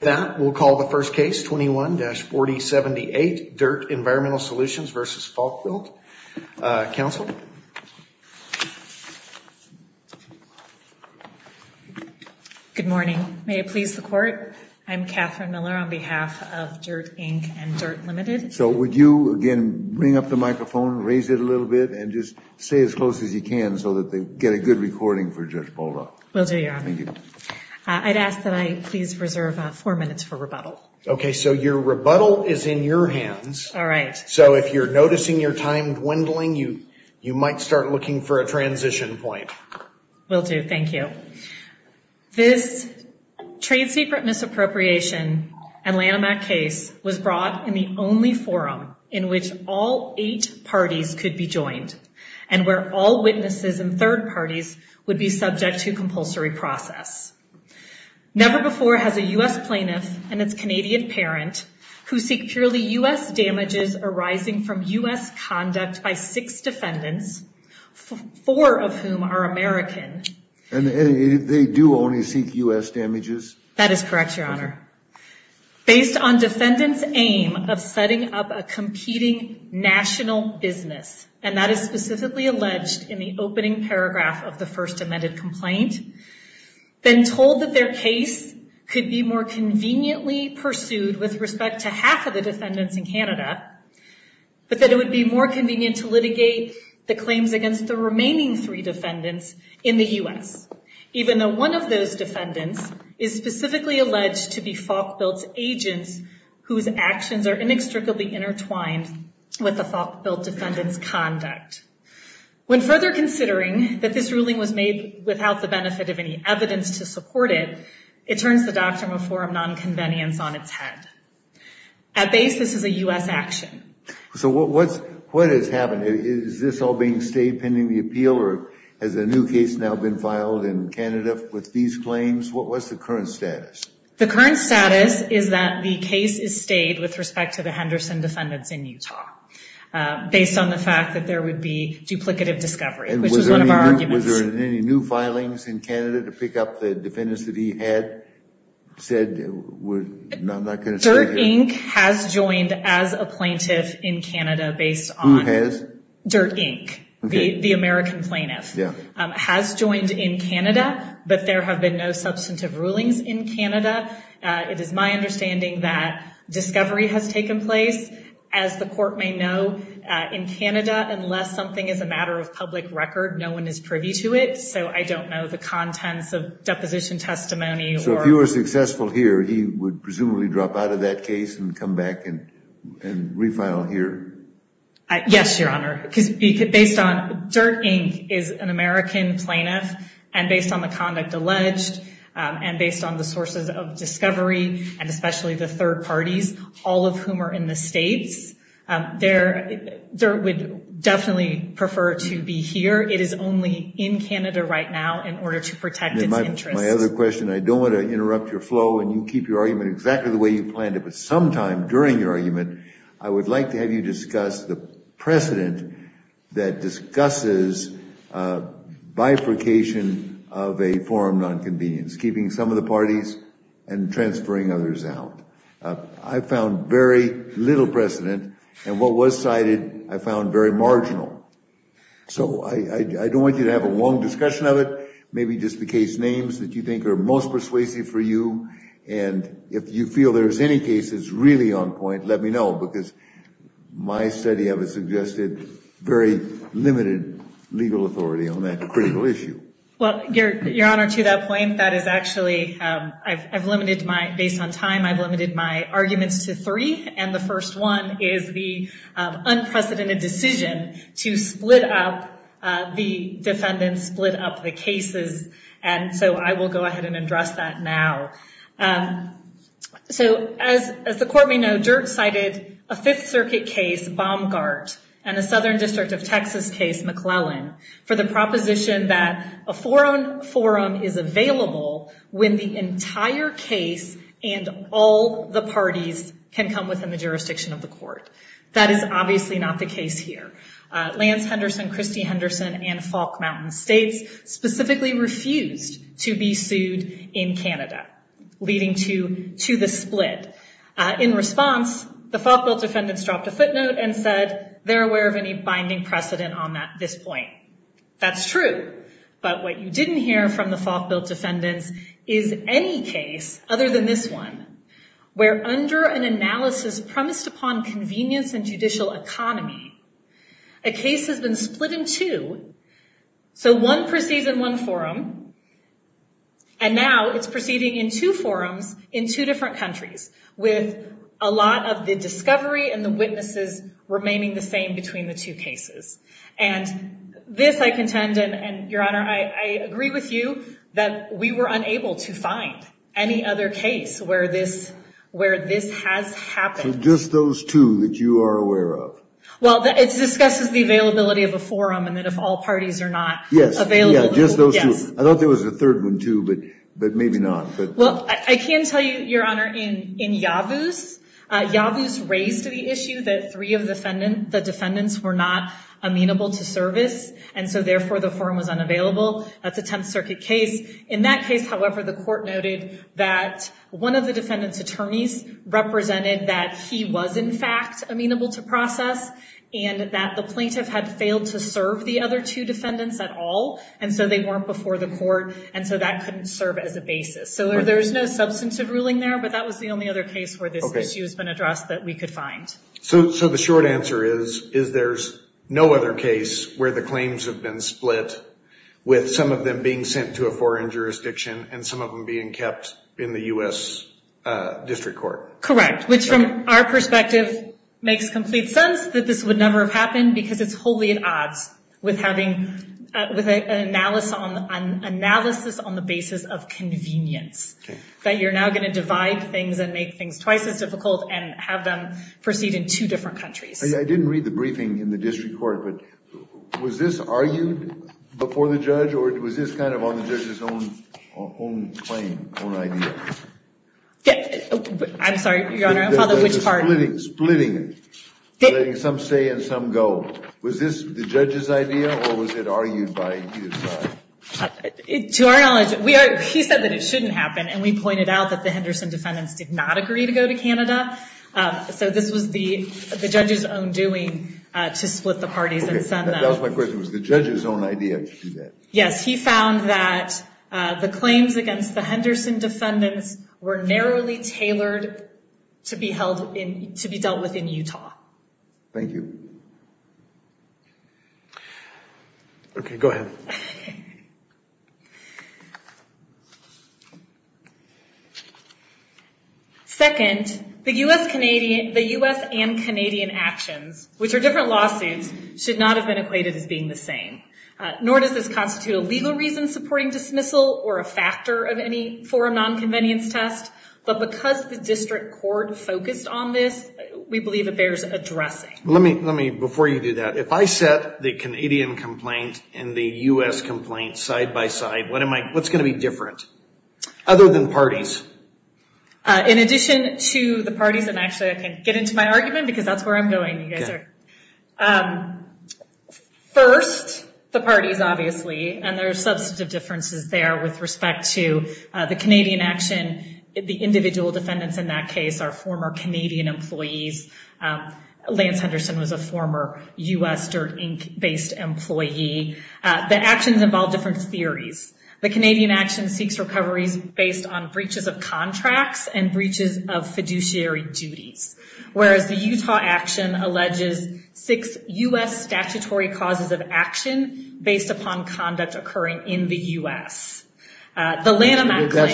That will call the first case 21-4078 DIRTT Environmental Solutions v. Falkbuilt. Council. Good morning. May it please the court. I'm Catherine Miller on behalf of DIRTT, Inc. and DIRTT Ltd. So would you again bring up the microphone, raise it a little bit, and just say as close as you can so that they get a good recording for Judge Bolldorf. Will do, Your Honor. I'd ask that I please reserve four minutes for rebuttal. Okay, so your rebuttal is in your hands. So if you're noticing your time dwindling, you might start looking for a transition point. Will do, thank you. This trade secret misappropriation and Lanham Act case was brought in the only forum in which all eight parties could be joined and where all witnesses and third parties would be subject to compulsory process. Never before has a U.S. plaintiff and its Canadian parent who seek purely U.S. damages arising from U.S. conduct by six defendants, four of whom are American. And they do only seek U.S. damages? That is correct, Your Honor. Based on defendants' aim of setting up a competing national business, and that is specifically alleged in the opening paragraph of the first amended complaint, been told that their case could be more conveniently pursued with respect to half of the defendants in Canada, but that it would be more convenient to litigate the claims against the remaining three defendants in the U.S., even though one of those defendants is specifically alleged to be Falk-Bilt's agents whose actions are inextricably intertwined with the Falk-Bilt defendant's conduct. When further considering that this ruling was made without the benefit of any evidence to support it, it turns the doctrine of forum non-convenience on its head. At base, this is a U.S. action. So what has happened? Is this all being stayed pending the appeal, or has a new case now been filed in Canada with these claims? What's the current status? The current status is that the case is stayed with respect to the Henderson defendants in Utah, based on the fact that there would be duplicative discovery, which was one of our arguments. And was there any new filings in Canada to pick up the defendants that he had said were not going to stay here? Dirt Inc. has joined as a plaintiff in Canada based on... Who has? Dirt Inc., the American plaintiff. Yeah. Has joined in Canada, but there have been no substantive rulings in Canada. It is my understanding that discovery has taken place. As the court may know, in Canada, unless something is a matter of public record, no one is privy to it. So I don't know the contents of deposition testimony or... So if you were successful here, he would presumably drop out of that case and come back and refile here? Yes, Your Honor. Because based on... Dirt Inc. is an American plaintiff, and based on the conduct alleged, and based on the sources of discovery, and especially the third parties, all of whom are in the States, Dirt would definitely prefer to be here. It is only in Canada right now in order to protect its interests. My other question, I don't want to interrupt your flow and you keep your argument exactly the way you planned it, but sometime during your argument, I would like to have you discuss the precedent that discusses bifurcation of a forum non-convenience, keeping some of the parties and transferring others out. I found very little precedent, and what was cited I found very marginal. So I don't want you to have a long discussion of it, maybe just the case names that you think are most persuasive for you, and if you feel there's any cases really on point, let me know, because my study of it suggested very limited legal authority on that critical issue. Well, Your Honor, to that point, that is actually... I've limited my, based on time, I've limited my arguments to three, and the first one is the unprecedented decision to split up the defendants, split up the cases, and so I will go ahead and address that now. So as the court may know, Dirt cited a Fifth Circuit case, Baumgart, and a Southern District of Texas case, McClellan, for the proposition that a forum is available when the entire case and all the parties can come within the jurisdiction of the court. That is obviously not the case here. Lance Henderson, Christy Henderson, and Falk Mountain States specifically refused to be sued in Canada, leading to the split. In response, the Falkville defendants dropped a footnote and said they're aware of any binding precedent on this point. That's true, but what you didn't hear from the Falkville defendants is any case other than this one, where under an analysis premised upon convenience and judicial economy, a case has been split in two. So one proceeds in one forum, and now it's proceeding in two forums in two different countries, with a lot of the discovery and the witnesses remaining the same between the two cases. And this I contend, and Your Honor, I agree with you that we were unable to find any other case where this has happened. So just those two that you are aware of? Well, it discusses the availability of a forum, and that if all parties are not available... Yes, just those two. I thought there was a third one too, but maybe not. Well, I can tell you, Your Honor, in Yavuz, Yavuz raised the issue that three of the defendants were not amenable to service, and so therefore the forum was unavailable. That's a Tenth Circuit case. In that case, however, the court noted that one of the defendant's attorneys represented that he was in fact amenable to process, and that the plaintiff had failed to serve the other two defendants at all, and so they weren't before the court, and so that couldn't serve as a basis. So there's no substantive ruling there, but that was the only other case where this issue has been addressed that we could find. So the short answer is, is there's no other case where the claims have been split, with some of them being sent to a foreign jurisdiction, and some of them being kept in the U.S. District Court. Correct, which from our perspective makes complete sense, that this would never have happened, because it's wholly at odds with having an analysis on the basis of convenience, that you're now going to divide things and make things twice as difficult, and have them proceed in two different countries. I didn't read the briefing in the District Court, but was this argued before the judge, or was this kind of on the judge's own claim, own idea? I'm sorry, your honor, which part? Splitting, splitting, some say and some go. Was this the judge's idea, or was it argued by you? To our knowledge, he said that it shouldn't happen, and we pointed out that the Henderson defendants did not agree to go to Canada. So this was the judge's own doing to split the parties and send them. That was my question, was the judge's own idea to do that? Yes, he found that the claims against the Henderson defendants were narrowly tailored to be held in, to be dealt with in Utah. Thank you. Okay, go ahead. Second, the U.S. Canadian, the U.S. and Canadian actions, which are different lawsuits, should not have been equated as being the same, nor does this constitute a legal reason supporting dismissal, or a factor of any forum non-convenience test, but because the District Court focused on this, we believe it bears addressing. Let me, let me, before you do that, if I set the Canadian U.S. complaint side by side, what am I, what's going to be different, other than parties? In addition to the parties, and actually I can get into my argument, because that's where I'm going, you guys are. First, the parties, obviously, and there are substantive differences there with respect to the Canadian action, the individual defendants in that case are former Canadian employees. Lance Henderson was a former U.S. Dirt, Inc. based employee. The actions involve different theories. The Canadian action seeks recoveries based on breaches of contracts and breaches of fiduciary duties, whereas the Utah action alleges six U.S. statutory causes of action based upon conduct occurring in the U.S. The Lanham Act claim...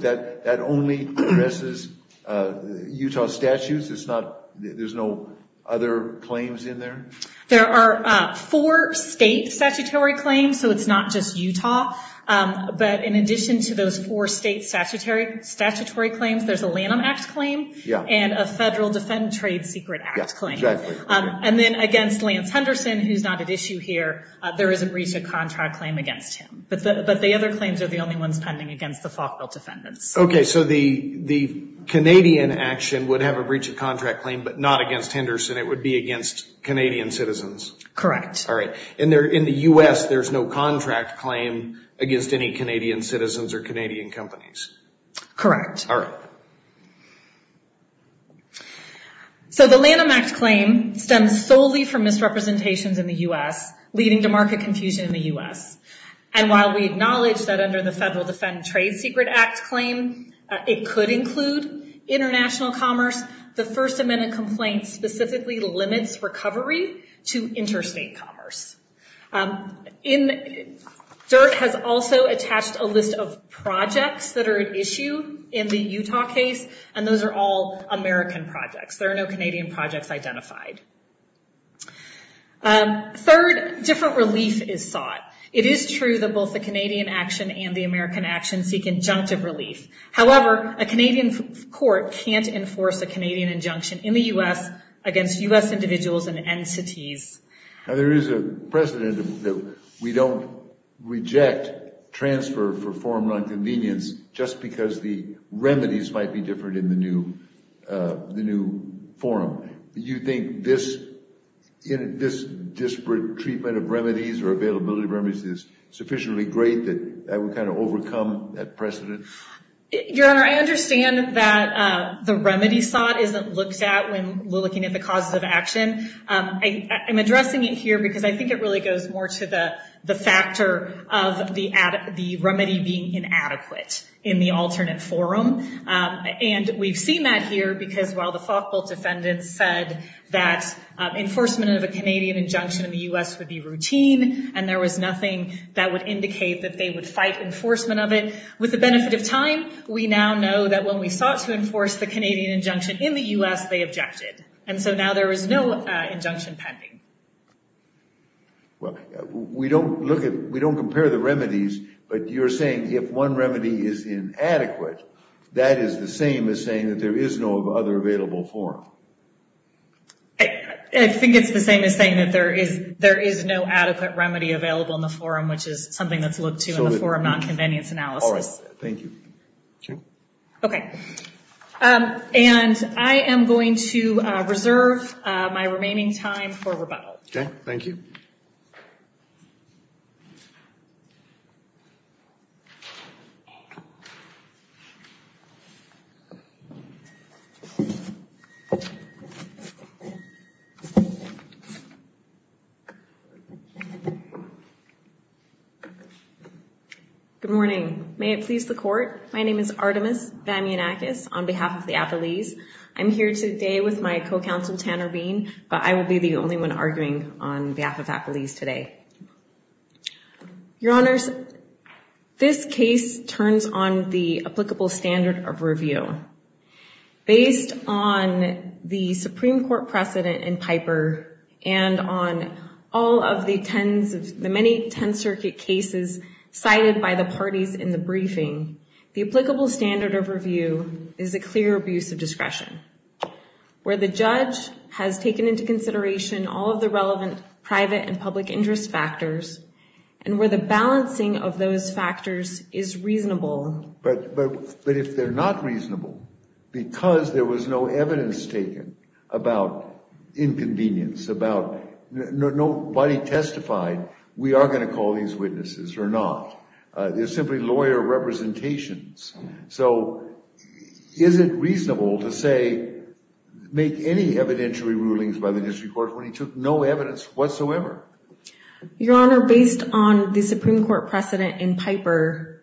That only addresses Utah statutes, it's not, there's no other claims in there? There are four state statutory claims, so it's not just Utah, but in addition to those four state statutory claims, there's a Lanham Act claim and a Federal Defend Trade Secret Act claim, and then against Lance Henderson, who's not at issue here, there is a breach of contract claim against him, but the other claims are the only ones pending against the Falkville defendants. Okay, so the Canadian action would have a breach of contract claim, but not against Henderson, it would be against Canadian citizens? Correct. All right, and in the U.S. there's no contract claim against any Canadian citizens or Canadian companies? Correct. All right. So the Lanham Act claim stems solely from misrepresentations in the U.S., leading to market confusion in the U.S., and while we acknowledge that under the Federal Defend Trade Secret Act claim, it could include international commerce, the First Amendment complaint specifically limits recovery to interstate commerce. DIRT has also attached a list of projects that are at issue in the Utah case, and those are all American projects. There are no Canadian projects identified. Third, different relief is sought. It is true that both the Canadian action and the American action seek injunctive relief. However, a Canadian court can't enforce a Canadian injunction in the U.S. against U.S. individuals and entities. Now, there is a precedent that we don't reject transfer for former just because the remedies might be different in the new form. Do you think this disparate treatment of remedies or availability of remedies is sufficiently great that that would kind of overcome that precedent? Your Honor, I understand that the remedy sought isn't looked at when we're looking at the causes of action. I'm addressing it here because I think it really goes more to the factor of the remedy being inadequate in the alternate forum. And we've seen that here because while the Falkvilt defendants said that enforcement of a Canadian injunction in the U.S. would be routine, and there was nothing that would indicate that they would fight enforcement of it, with the benefit of time, we now know that when we sought to enforce the Canadian injunction in the U.S., they objected. And so now there is no injunction pending. Well, we don't look at, we don't compare the remedies, but you're saying if one remedy is inadequate, that is the same as saying that there is no other available form. I think it's the same as saying that there is no adequate remedy available in the forum, which is something that's looked to in the forum non-convenience analysis. All right. Thank you. Okay. And I am going to reserve my remaining time for rebuttal. Okay. Thank you. Good morning. May it please the court. My name is Artemis Vamianakis on behalf of the Appalese. I'm here today with my co-counsel Tanner Bean, but I will be the only one arguing on behalf of Appalese today. Your Honors, this case turns on the applicable standard of review. Based on the Supreme Court precedent in Piper and on all of the tens of the many 10th Circuit cases cited by the parties in the briefing, the applicable standard of review is a clear abuse of discretion where the judge has taken into consideration all of the relevant private and public interest factors and where the balancing of those factors is reasonable. But if they're not reasonable because there was no evidence taken about inconvenience, about nobody testified, we are going to call these witnesses or not. They're simply lawyer representations. So is it reasonable to say, make any evidentiary rulings by the district court when he took no evidence whatsoever? Your Honor, based on the Supreme Court precedent in Piper,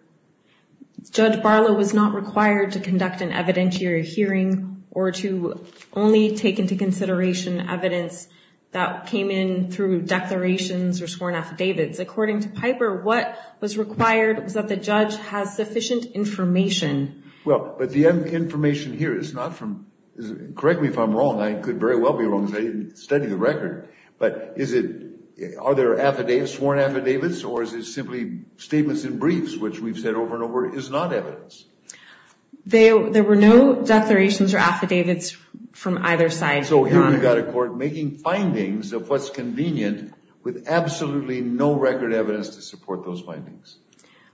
Judge Barlow was not required to conduct an evidentiary hearing or to only take into consideration evidence that came in through declarations or sworn affidavits. According to information. Well, but the information here is not from, correct me if I'm wrong, I could very well be wrong because I didn't study the record, but is it, are there affidavits, sworn affidavits, or is it simply statements in briefs, which we've said over and over, is not evidence? There were no declarations or affidavits from either side. So here we've got a court making findings of what's convenient with absolutely no record evidence to support those findings.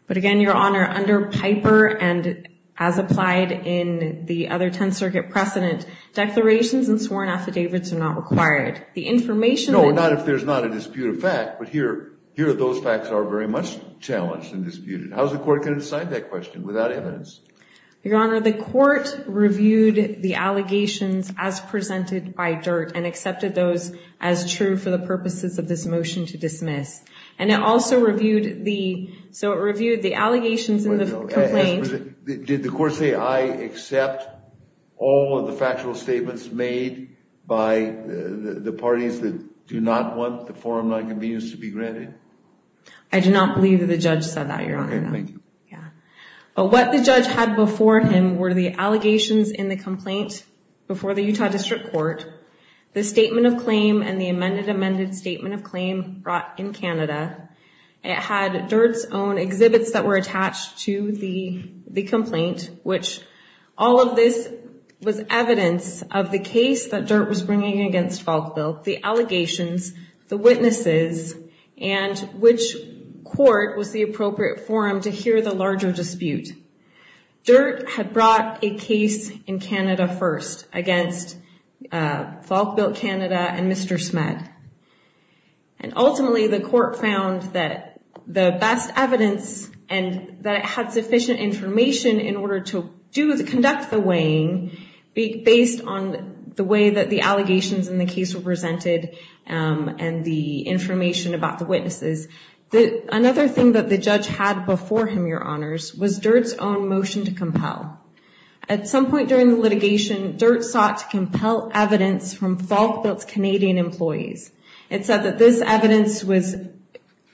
But again, Your Honor, under Piper and as applied in the other 10th Circuit precedent, declarations and sworn affidavits are not required. The information... No, not if there's not a disputed fact, but here, here those facts are very much challenged and disputed. How's the court going to decide that question without evidence? Your Honor, the court reviewed the allegations as presented by DIRT and accepted those as true for purposes of this motion to dismiss. And it also reviewed the, so it reviewed the allegations in the complaint. Did the court say, I accept all of the factual statements made by the parties that do not want the forum non-convenience to be granted? I do not believe that the judge said that, Your Honor. Okay, thank you. Yeah. What the judge had before him were the allegations in the of claim brought in Canada. It had DIRT's own exhibits that were attached to the complaint, which all of this was evidence of the case that DIRT was bringing against Falkville, the allegations, the witnesses, and which court was the appropriate forum to hear the larger dispute. DIRT had brought a case in Canada first against Falkville, Canada and Mr. Smedd. And ultimately the court found that the best evidence and that it had sufficient information in order to do the conduct the weighing based on the way that the allegations in the case were presented and the information about the witnesses. Another thing that the judge had before him, was DIRT's own motion to compel. At some point during the litigation, DIRT sought to compel evidence from Falkville's Canadian employees. It said that this evidence was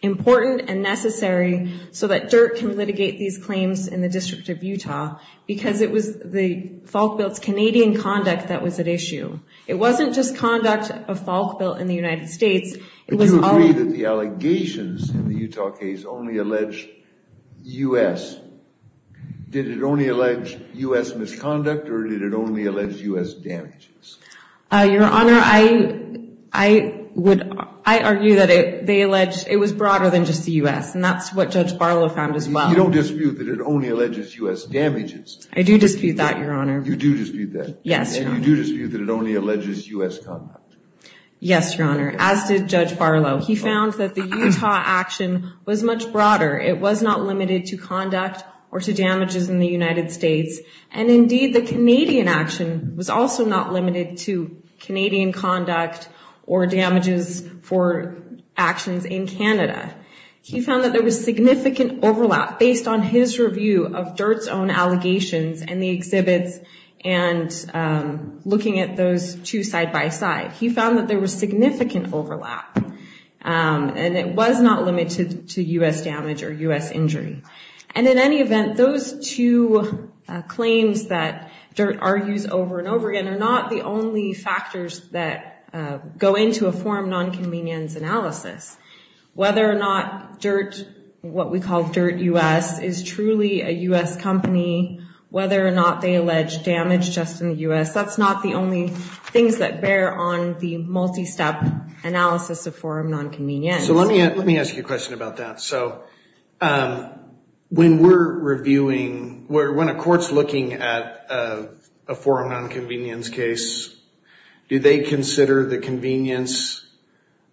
important and necessary so that DIRT can litigate these claims in the District of Utah because it was the Falkville's Canadian conduct that was at issue. It wasn't just conduct of Falkville in the United States. If you agree that the allegations in the Utah case only allege U.S., did it only allege U.S. misconduct or did it only allege U.S. damages? Your Honor, I argue that it was broader than just the U.S. and that's what Judge Barlow found as well. You don't dispute that it only alleges U.S. damages? I do dispute that, Your Honor. You do dispute that? Yes, Your Honor. And you do dispute that it only alleges U.S. conduct? Yes, Your Honor, as did Judge Barlow. He found that the Utah action was much broader. It was not limited to conduct or to damages in the United States and indeed the Canadian action was also not limited to Canadian conduct or damages for actions in Canada. He found that there was significant overlap based on his review of DIRT's own allegations and the exhibits and looking at those two side by side. He found that there was significant overlap and it was not limited to U.S. damage or U.S. injury. And in any event, those two claims that DIRT argues over and over again are not the only factors that go into a form non-convenience analysis. Whether or not what we call DIRT U.S. is truly a U.S. company, whether or not they are in the U.S., that's not the only things that bear on the multi-step analysis of forum non-convenience. So let me ask you a question about that. So when we're reviewing, when a court's looking at a forum non-convenience case, do they consider the convenience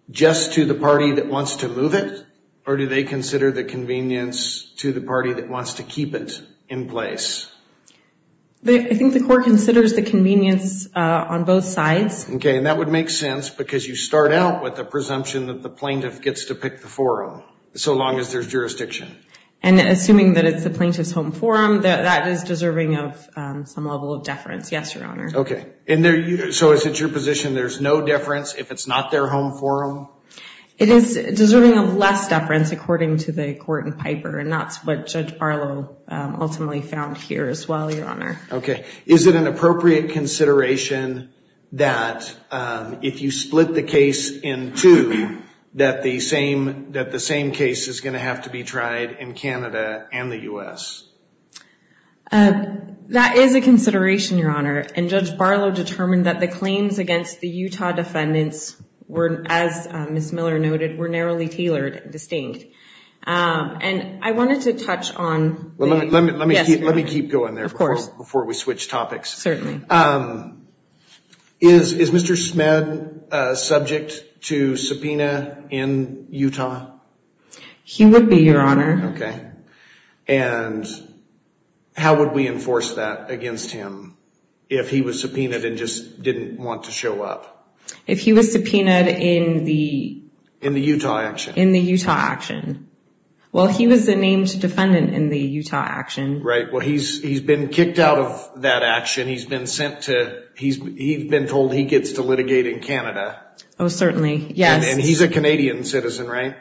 just to the party that wants to move it or do they consider the convenience to the party that wants to keep it in place? I think the court considers the convenience on both sides. Okay, and that would make sense because you start out with the presumption that the plaintiff gets to pick the forum, so long as there's jurisdiction. And assuming that it's the plaintiff's home forum, that is deserving of some level of deference. Yes, Your Honor. Okay. So is it your position there's no deference if it's not their home forum? It is deserving of less deference according to the ultimately found here as well, Your Honor. Okay. Is it an appropriate consideration that if you split the case in two, that the same case is going to have to be tried in Canada and the U.S.? That is a consideration, Your Honor. And Judge Barlow determined that the claims against the Utah defendants were, as Ms. Miller noted, were narrowly tailored and distinct. And I wanted to let me keep going there before we switch topics. Certainly. Is Mr. Smed subject to subpoena in Utah? He would be, Your Honor. Okay. And how would we enforce that against him if he was subpoenaed and just didn't want to show up? If he was subpoenaed in the... In the Utah action? In the Utah action. Well, he was the named defendant in the Utah action. Right. Well, he's been kicked out of that action. He's been sent to... He's been told he gets to litigate in Canada. Oh, certainly. Yes. And he's a Canadian citizen, right?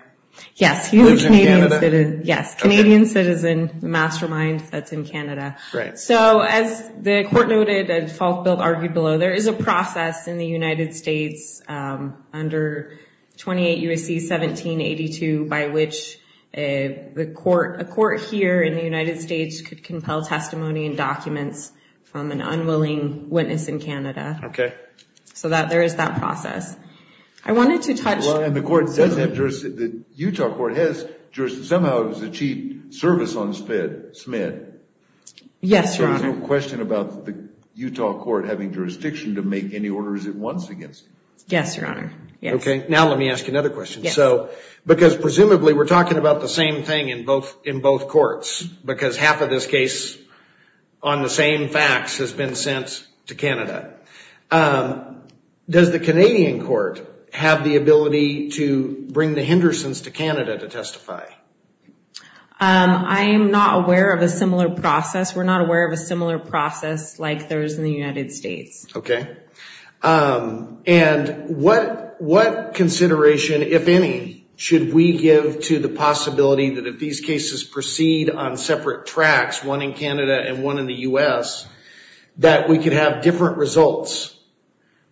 Yes. He lives in Canada. Yes. Canadian citizen, mastermind that's in Canada. Right. So as the court noted, a default bill argued below, there is a process in the United States under 28 U.S.C. 1782, by which a court here in the United States could compel testimony and documents from an unwilling witness in Canada. Okay. So that there is that process. I wanted to touch... Well, and the court doesn't have jurisdiction... The Utah court has jurisdiction. Somehow it was a cheap service on Smed. Yes, Your Honor. So there's no question about the Yes, Your Honor. Yes. Okay. Now let me ask you another question. So, because presumably we're talking about the same thing in both courts, because half of this case on the same facts has been sent to Canada. Does the Canadian court have the ability to bring the Hendersons to Canada to testify? I'm not aware of a similar process. We're not aware of a similar process like there was in Canada. And what consideration, if any, should we give to the possibility that if these cases proceed on separate tracks, one in Canada and one in the U.S., that we could have different results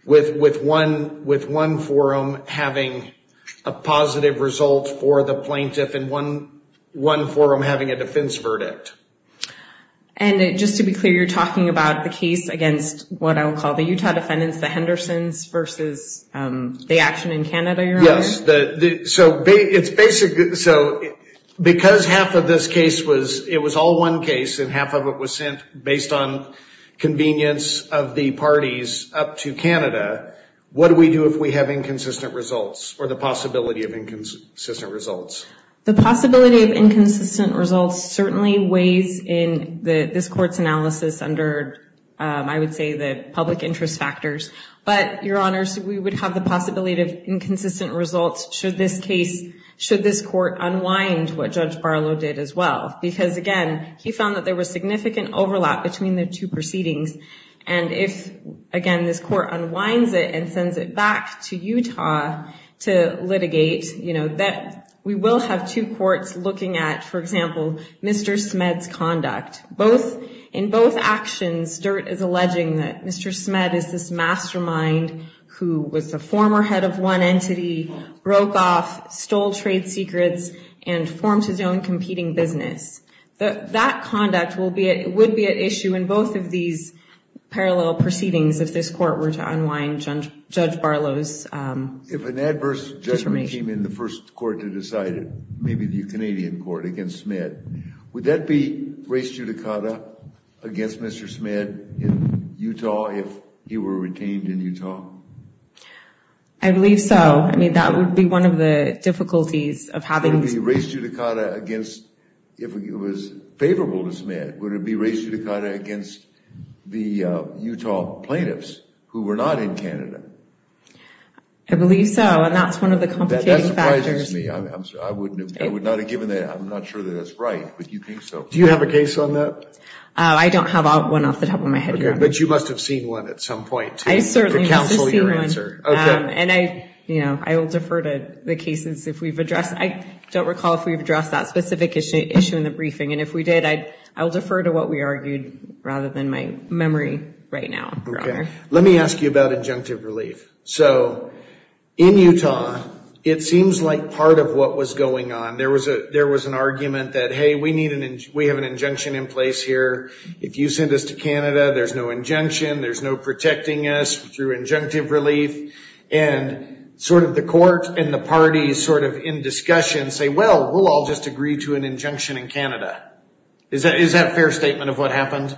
with one forum having a positive result for the plaintiff and one forum having a defense verdict? And just to be clear, you're talking about the case against what I would call the action in Canada, Your Honor? Yes. So, because half of this case was, it was all one case and half of it was sent based on convenience of the parties up to Canada, what do we do if we have inconsistent results or the possibility of inconsistent results? The possibility of inconsistent results certainly weighs in this court's analysis under, I would say, the public interest factors. But, Your Honor, we would have the possibility of inconsistent results should this case, should this court unwind what Judge Barlow did as well. Because, again, he found that there was significant overlap between the two proceedings. And if, again, this court unwinds it and sends it back to Utah to litigate, we will have two courts looking at, for example, Mr. Smed's conduct. In both actions, Dirt is alleging that Mr. Smed is this mastermind who was the former head of one entity, broke off, stole trade secrets, and formed his own competing business. That conduct would be at issue in both of these parallel proceedings if this court were to unwind Judge Barlow's information. In the first court to decide, maybe the Canadian court against Smed, would that be res judicata against Mr. Smed in Utah if he were retained in Utah? I believe so. I mean, that would be one of the difficulties of having... Would it be res judicata against, if it was favorable to Smed, would it be res judicata against the Utah plaintiffs who were not in Canada? I believe so. And that's one of the complicating factors. That surprises me. I'm sorry. I would not have given that. I'm not sure that that's right, but you think so. Do you have a case on that? I don't have one off the top of my head. Okay. But you must have seen one at some point to counsel your answer. I certainly must have seen one. And I will defer to the cases if we've addressed. I don't recall if we've addressed that specific issue in the briefing. And if we did, I will defer to what we argued rather than my memory right now, Your Honor. Let me ask you about injunctive relief. So in Utah, it seems like part of what was going on, there was an argument that, hey, we have an injunction in place here. If you send us to Canada, there's no injunction. There's no protecting us through injunctive relief. And sort of the court and the parties sort of in discussion say, well, we'll all just agree to an injunction in Canada. Is that fair statement of what happened?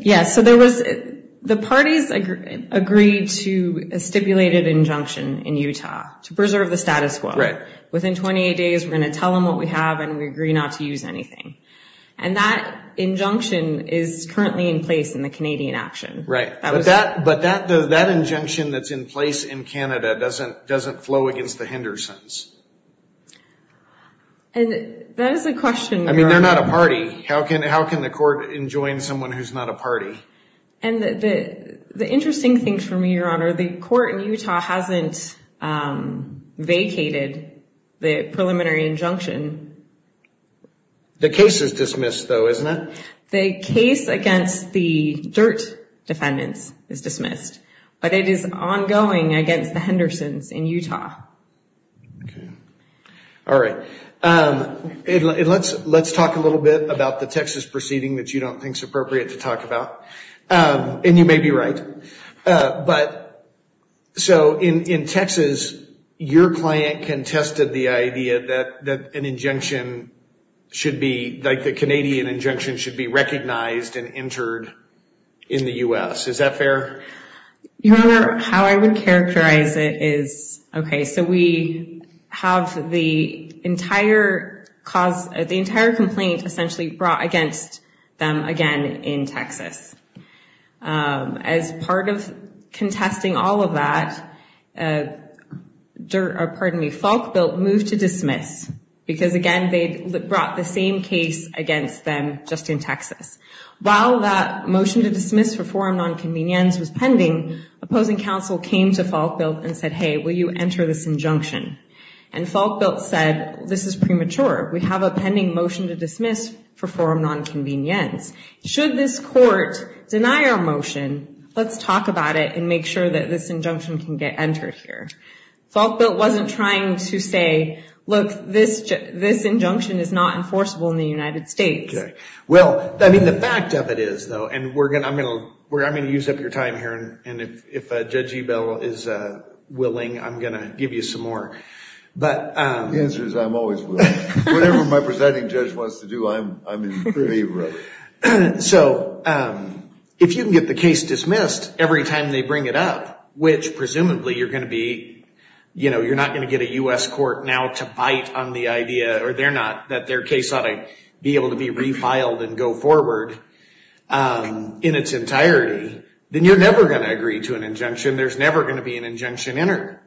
Yeah. So the parties agreed to a stipulated injunction in Utah to preserve the status quo. Right. Within 28 days, we're going to tell them what we have and we agree not to use anything. And that injunction is currently in place in the Canadian action. Right. But that injunction that's in place in Canada doesn't flow against the Hendersons. And that is a question- I mean, they're not a party. How can the court enjoin someone who's not a party? And the interesting thing for me, Your Honor, the court in Utah hasn't vacated the preliminary injunction. The case is dismissed, though, isn't it? The case against the Dirt defendants is dismissed, but it is ongoing against the Hendersons in Utah. Okay. All right. Let's talk a little bit about the Texas proceeding that you don't think is appropriate to talk about. And you may be right. But so in Texas, your client contested the idea that an injunction should be, like the Canadian injunction, should be recognized and entered in the U.S. Is that fair? Your Honor, how I would characterize it is, okay, so we have the entire cause, the entire complaint essentially brought against them again in Texas. As part of contesting all of that, pardon me, Falk built moved to dismiss because, again, they brought the same case against them just in Texas. While that motion to dismiss for forum nonconvenience was pending, opposing counsel came to Falk built and said, hey, will you enter this injunction? And Falk built said, this is premature. We have a pending motion to dismiss for forum nonconvenience. Should this court deny our motion, let's talk about it and make sure that this injunction can get entered here. Falk built wasn't trying to say, look, this injunction is not enforceable in the United States. Okay. Well, I mean, the fact of it is, though, and we're going to, I'm going to use up your time here. And if Judge Ebell is willing, I'm going to give you some more. But... The answer is I'm always willing. Whatever my presiding judge wants to do, I'm in favor of. So if you can get the case dismissed every time they bring it up, which presumably you're going to be, you know, you're not going to get a U.S. court now to bite on the idea, or they're not, that their case ought to be able to be refiled and go forward in its entirety, then you're never going to agree to an injunction. There's never going to be an injunction entered.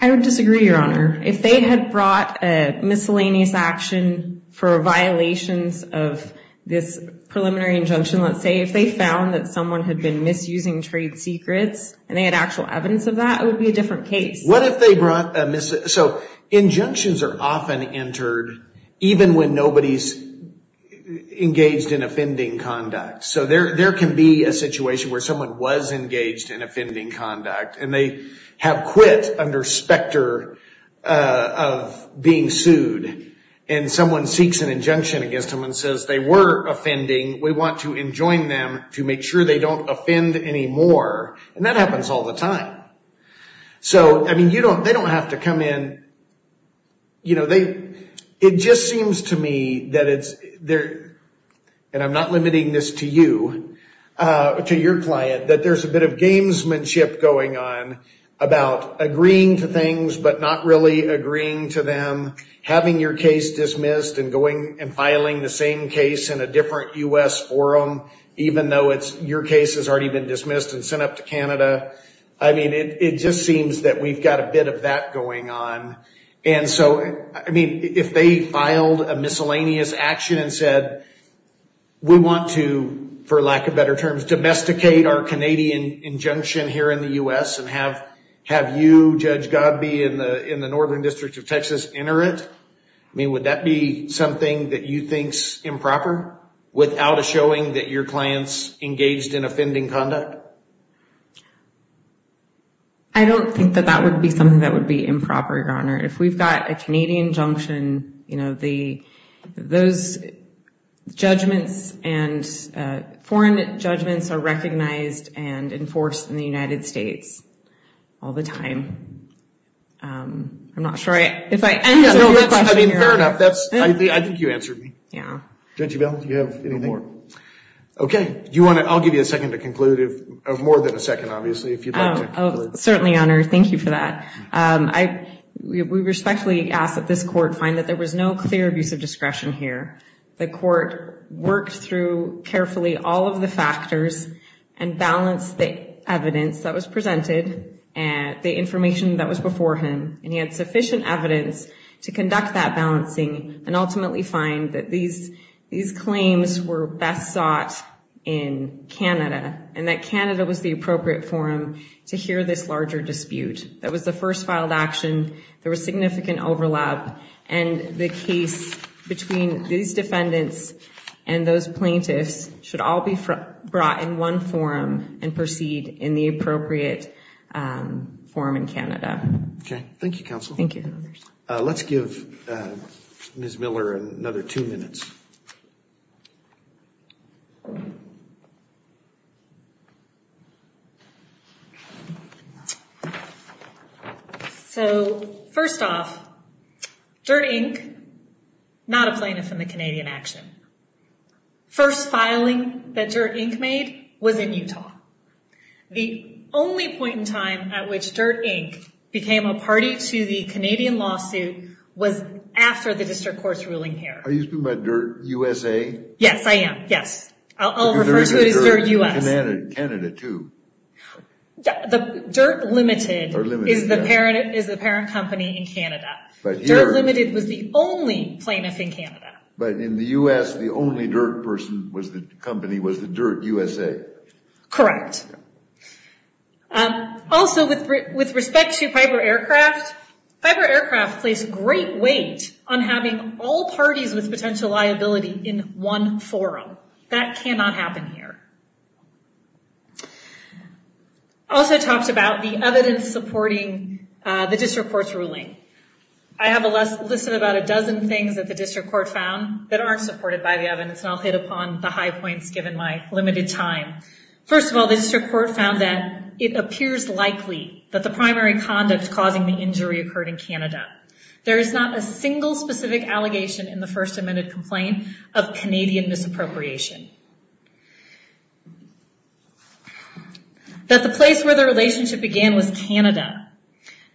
I would disagree, Your Honor. If they had brought a miscellaneous action for violations of this preliminary injunction, let's say if they found that someone had been misusing trade secrets and they had actual evidence of that, it would be a different case. What if they brought a mis... So injunctions are often entered even when nobody's engaged in offending conduct. So there can be a situation where someone was engaged in offending conduct, and they have quit under specter of being sued, and someone seeks an injunction against them and says they were offending, we want to enjoin them to make sure they don't offend anymore. And that happens all the time. So, I mean, you don't, they don't have to come in, you know, they, it just seems to me that it's there, and I'm not limiting this to you, to your client, that there's a bit of gamesmanship going on about agreeing to things but not really agreeing to them, having your case dismissed and going and filing the same case in a different U.S. forum, even though it's, your case has already been dismissed and sent up to Canada. I mean, it just seems that we've got a bit of that going on. And so, I mean, if they filed a miscellaneous action and said, we want to, for lack of better terms, domesticate our Canadian injunction here in the U.S. and have you, Judge Godby, in the Northern District of Texas enter it, I mean, would that be something that you think's improper without a showing that your client's engaged in offending conduct? I don't think that that would be something that would be improper, Your Honor. If we've got a Canadian injunction, you know, the, those judgments and foreign judgments are recognized and enforced in the United States all the time. I'm not sure I, if I end on your question, Your Honor. I mean, fair enough. That's, I think you answered me. Yeah. Judge Evelin, do you have anything more? Okay. Do you want to, I'll give you a second to conclude if, more than a second, obviously, if you'd like to. Oh, certainly, Your Honor. Thank you for that. I, we respectfully ask that this Court find that there was no clear abuse of discretion here. The Court worked through carefully all of the factors and balanced the evidence that was to conduct that balancing and ultimately find that these, these claims were best sought in Canada and that Canada was the appropriate forum to hear this larger dispute. That was the first filed action. There was significant overlap and the case between these defendants and those plaintiffs should all be brought in one forum and proceed in the appropriate forum in Canada. Okay. Thank you, Counsel. Thank you, Your Honor. Let's give Ms. Miller another two minutes. So, first off, Dirt, Inc., not a plaintiff in the Canadian action. First filing that Dirt, Inc. made was in Utah. The only point in time at which Dirt, Inc. became a party to the Canadian lawsuit was after the District Court's ruling here. Are you speaking about Dirt USA? Yes, I am. Yes. I'll refer to it as Dirt U.S. Canada too. The Dirt Limited is the parent, is the parent company in Canada. Dirt Limited was the only plaintiff in Canada. But in the U.S., the only Dirt person was the company was the Dirt USA. Correct. Also, with respect to Piper Aircraft, Piper Aircraft placed great weight on having all parties with potential liability in one forum. That cannot happen here. Also talked about the evidence supporting the District Court's ruling. I have a list of about a dozen things that the District Court found that aren't supported by the evidence and I'll hit upon the high points given my limited time. First of all, the District Court found that it appears likely that the primary conduct causing the injury occurred in Canada. There is not a single specific allegation in the First Amendment Complaint of Canadian misappropriation. That the place where the relationship began was Canada.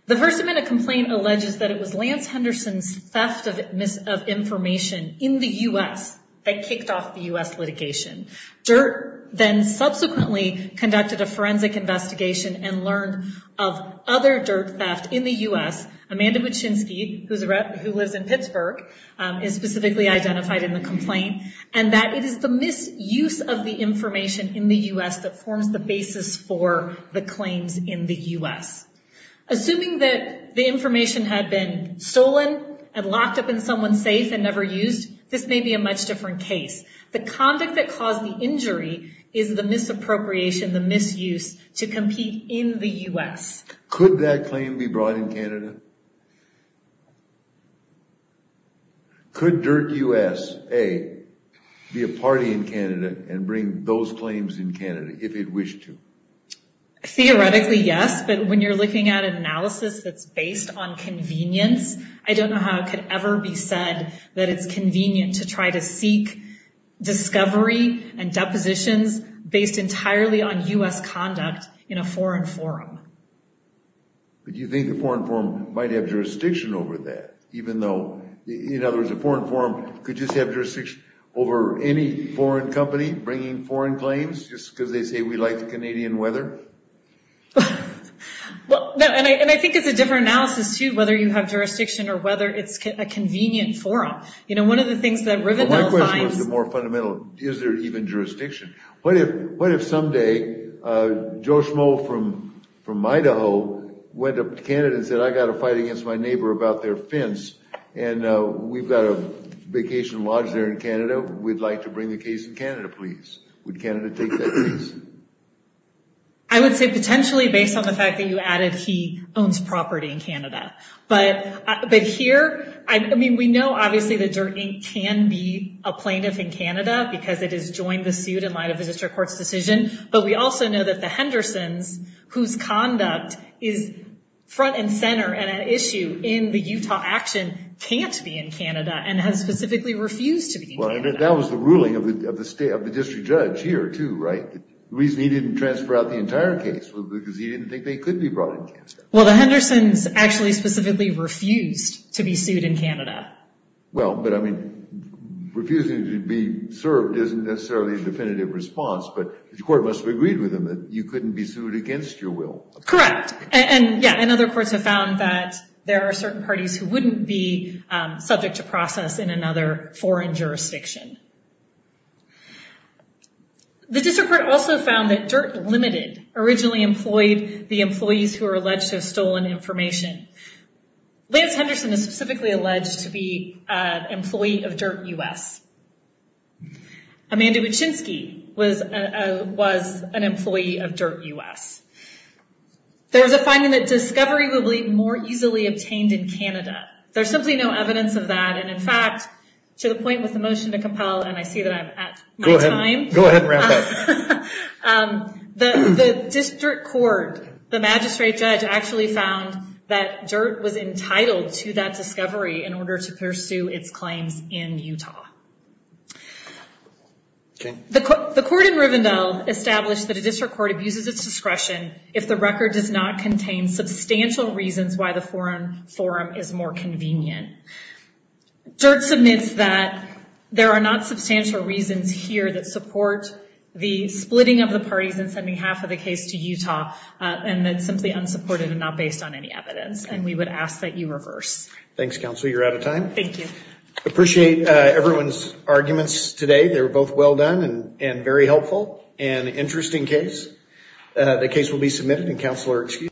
The First Amendment Complaint alleges that it was Lance Henderson's theft of information in the U.S. that kicked off the U.S. litigation. Dirt then subsequently conducted a forensic investigation and learned of other dirt theft in the U.S. Amanda Wachinsky, who lives in Pittsburgh, is specifically identified in the complaint and that it is the misuse of the information in the U.S. that forms the basis for the claims in the U.S. Assuming that the information had been stolen and locked up in someone safe and never used, this may be a much different case. The conduct that caused the injury is the misappropriation, the misuse to compete in the U.S. Could that claim be brought in Canada? Could Dirt U.S. be a party in Canada and bring those claims in Canada if it wished to? Theoretically, yes, but when you're looking at an analysis that's based on convenience, I don't know how it could ever be said that it's convenient to try to seek discovery and depositions based entirely on U.S. conduct in a foreign forum. But you think the foreign forum might have jurisdiction over that, even though, in other words, a foreign forum could just have jurisdiction over any foreign company bringing foreign claims just because they say we like the Canadian weather? Well, and I think it's a different analysis, too, whether you have jurisdiction or whether it's a convenient forum. You know, one of the things that Rivendell finds... Well, my question is the more fundamental, is there even jurisdiction? What if someday Joe Schmoe from Idaho went up to Canada and said, I got a fight against my neighbor about their fence and we've got a vacation lodge there in Canada? I would say potentially based on the fact that you added he owns property in Canada. But here, I mean, we know obviously that Dirt, Inc. can be a plaintiff in Canada because it has joined the suit in light of the district court's decision, but we also know that the Hendersons, whose conduct is front and center and an issue in the Utah action, can't be in Canada and has specifically refused to be in Canada. Well, and that was the ruling of the district judge here, too, right? The reason he didn't transfer out the entire case was because he didn't think they could be brought in. Well, the Hendersons actually specifically refused to be sued in Canada. Well, but I mean, refusing to be served isn't necessarily a definitive response, but the court must have agreed with them that you couldn't be sued against your will. Correct. And yeah, and other courts have found that there are certain parties who wouldn't be The district court also found that Dirt, Ltd. originally employed the employees who are alleged to have stolen information. Lance Henderson is specifically alleged to be an employee of Dirt, U.S. Amanda Wachinsky was an employee of Dirt, U.S. There was a finding that discovery would be more easily obtained in Canada. There's simply no evidence of that, and in fact, to the point with the motion to compel, and I see that I'm at my time. Go ahead and wrap up. The district court, the magistrate judge actually found that Dirt was entitled to that discovery in order to pursue its claims in Utah. The court in Rivendell established that a district court abuses its discretion if the record does not contain substantial reasons why the forum is more convenient. Dirt submits that there are not substantial reasons here that support the splitting of the parties and sending half of the case to Utah, and that's simply unsupported and not based on any evidence, and we would ask that you reverse. Thanks, counsel. You're out of time. Thank you. Appreciate everyone's arguments today. They were both well done and very helpful and interesting case. The case will be submitted and counsel are excused.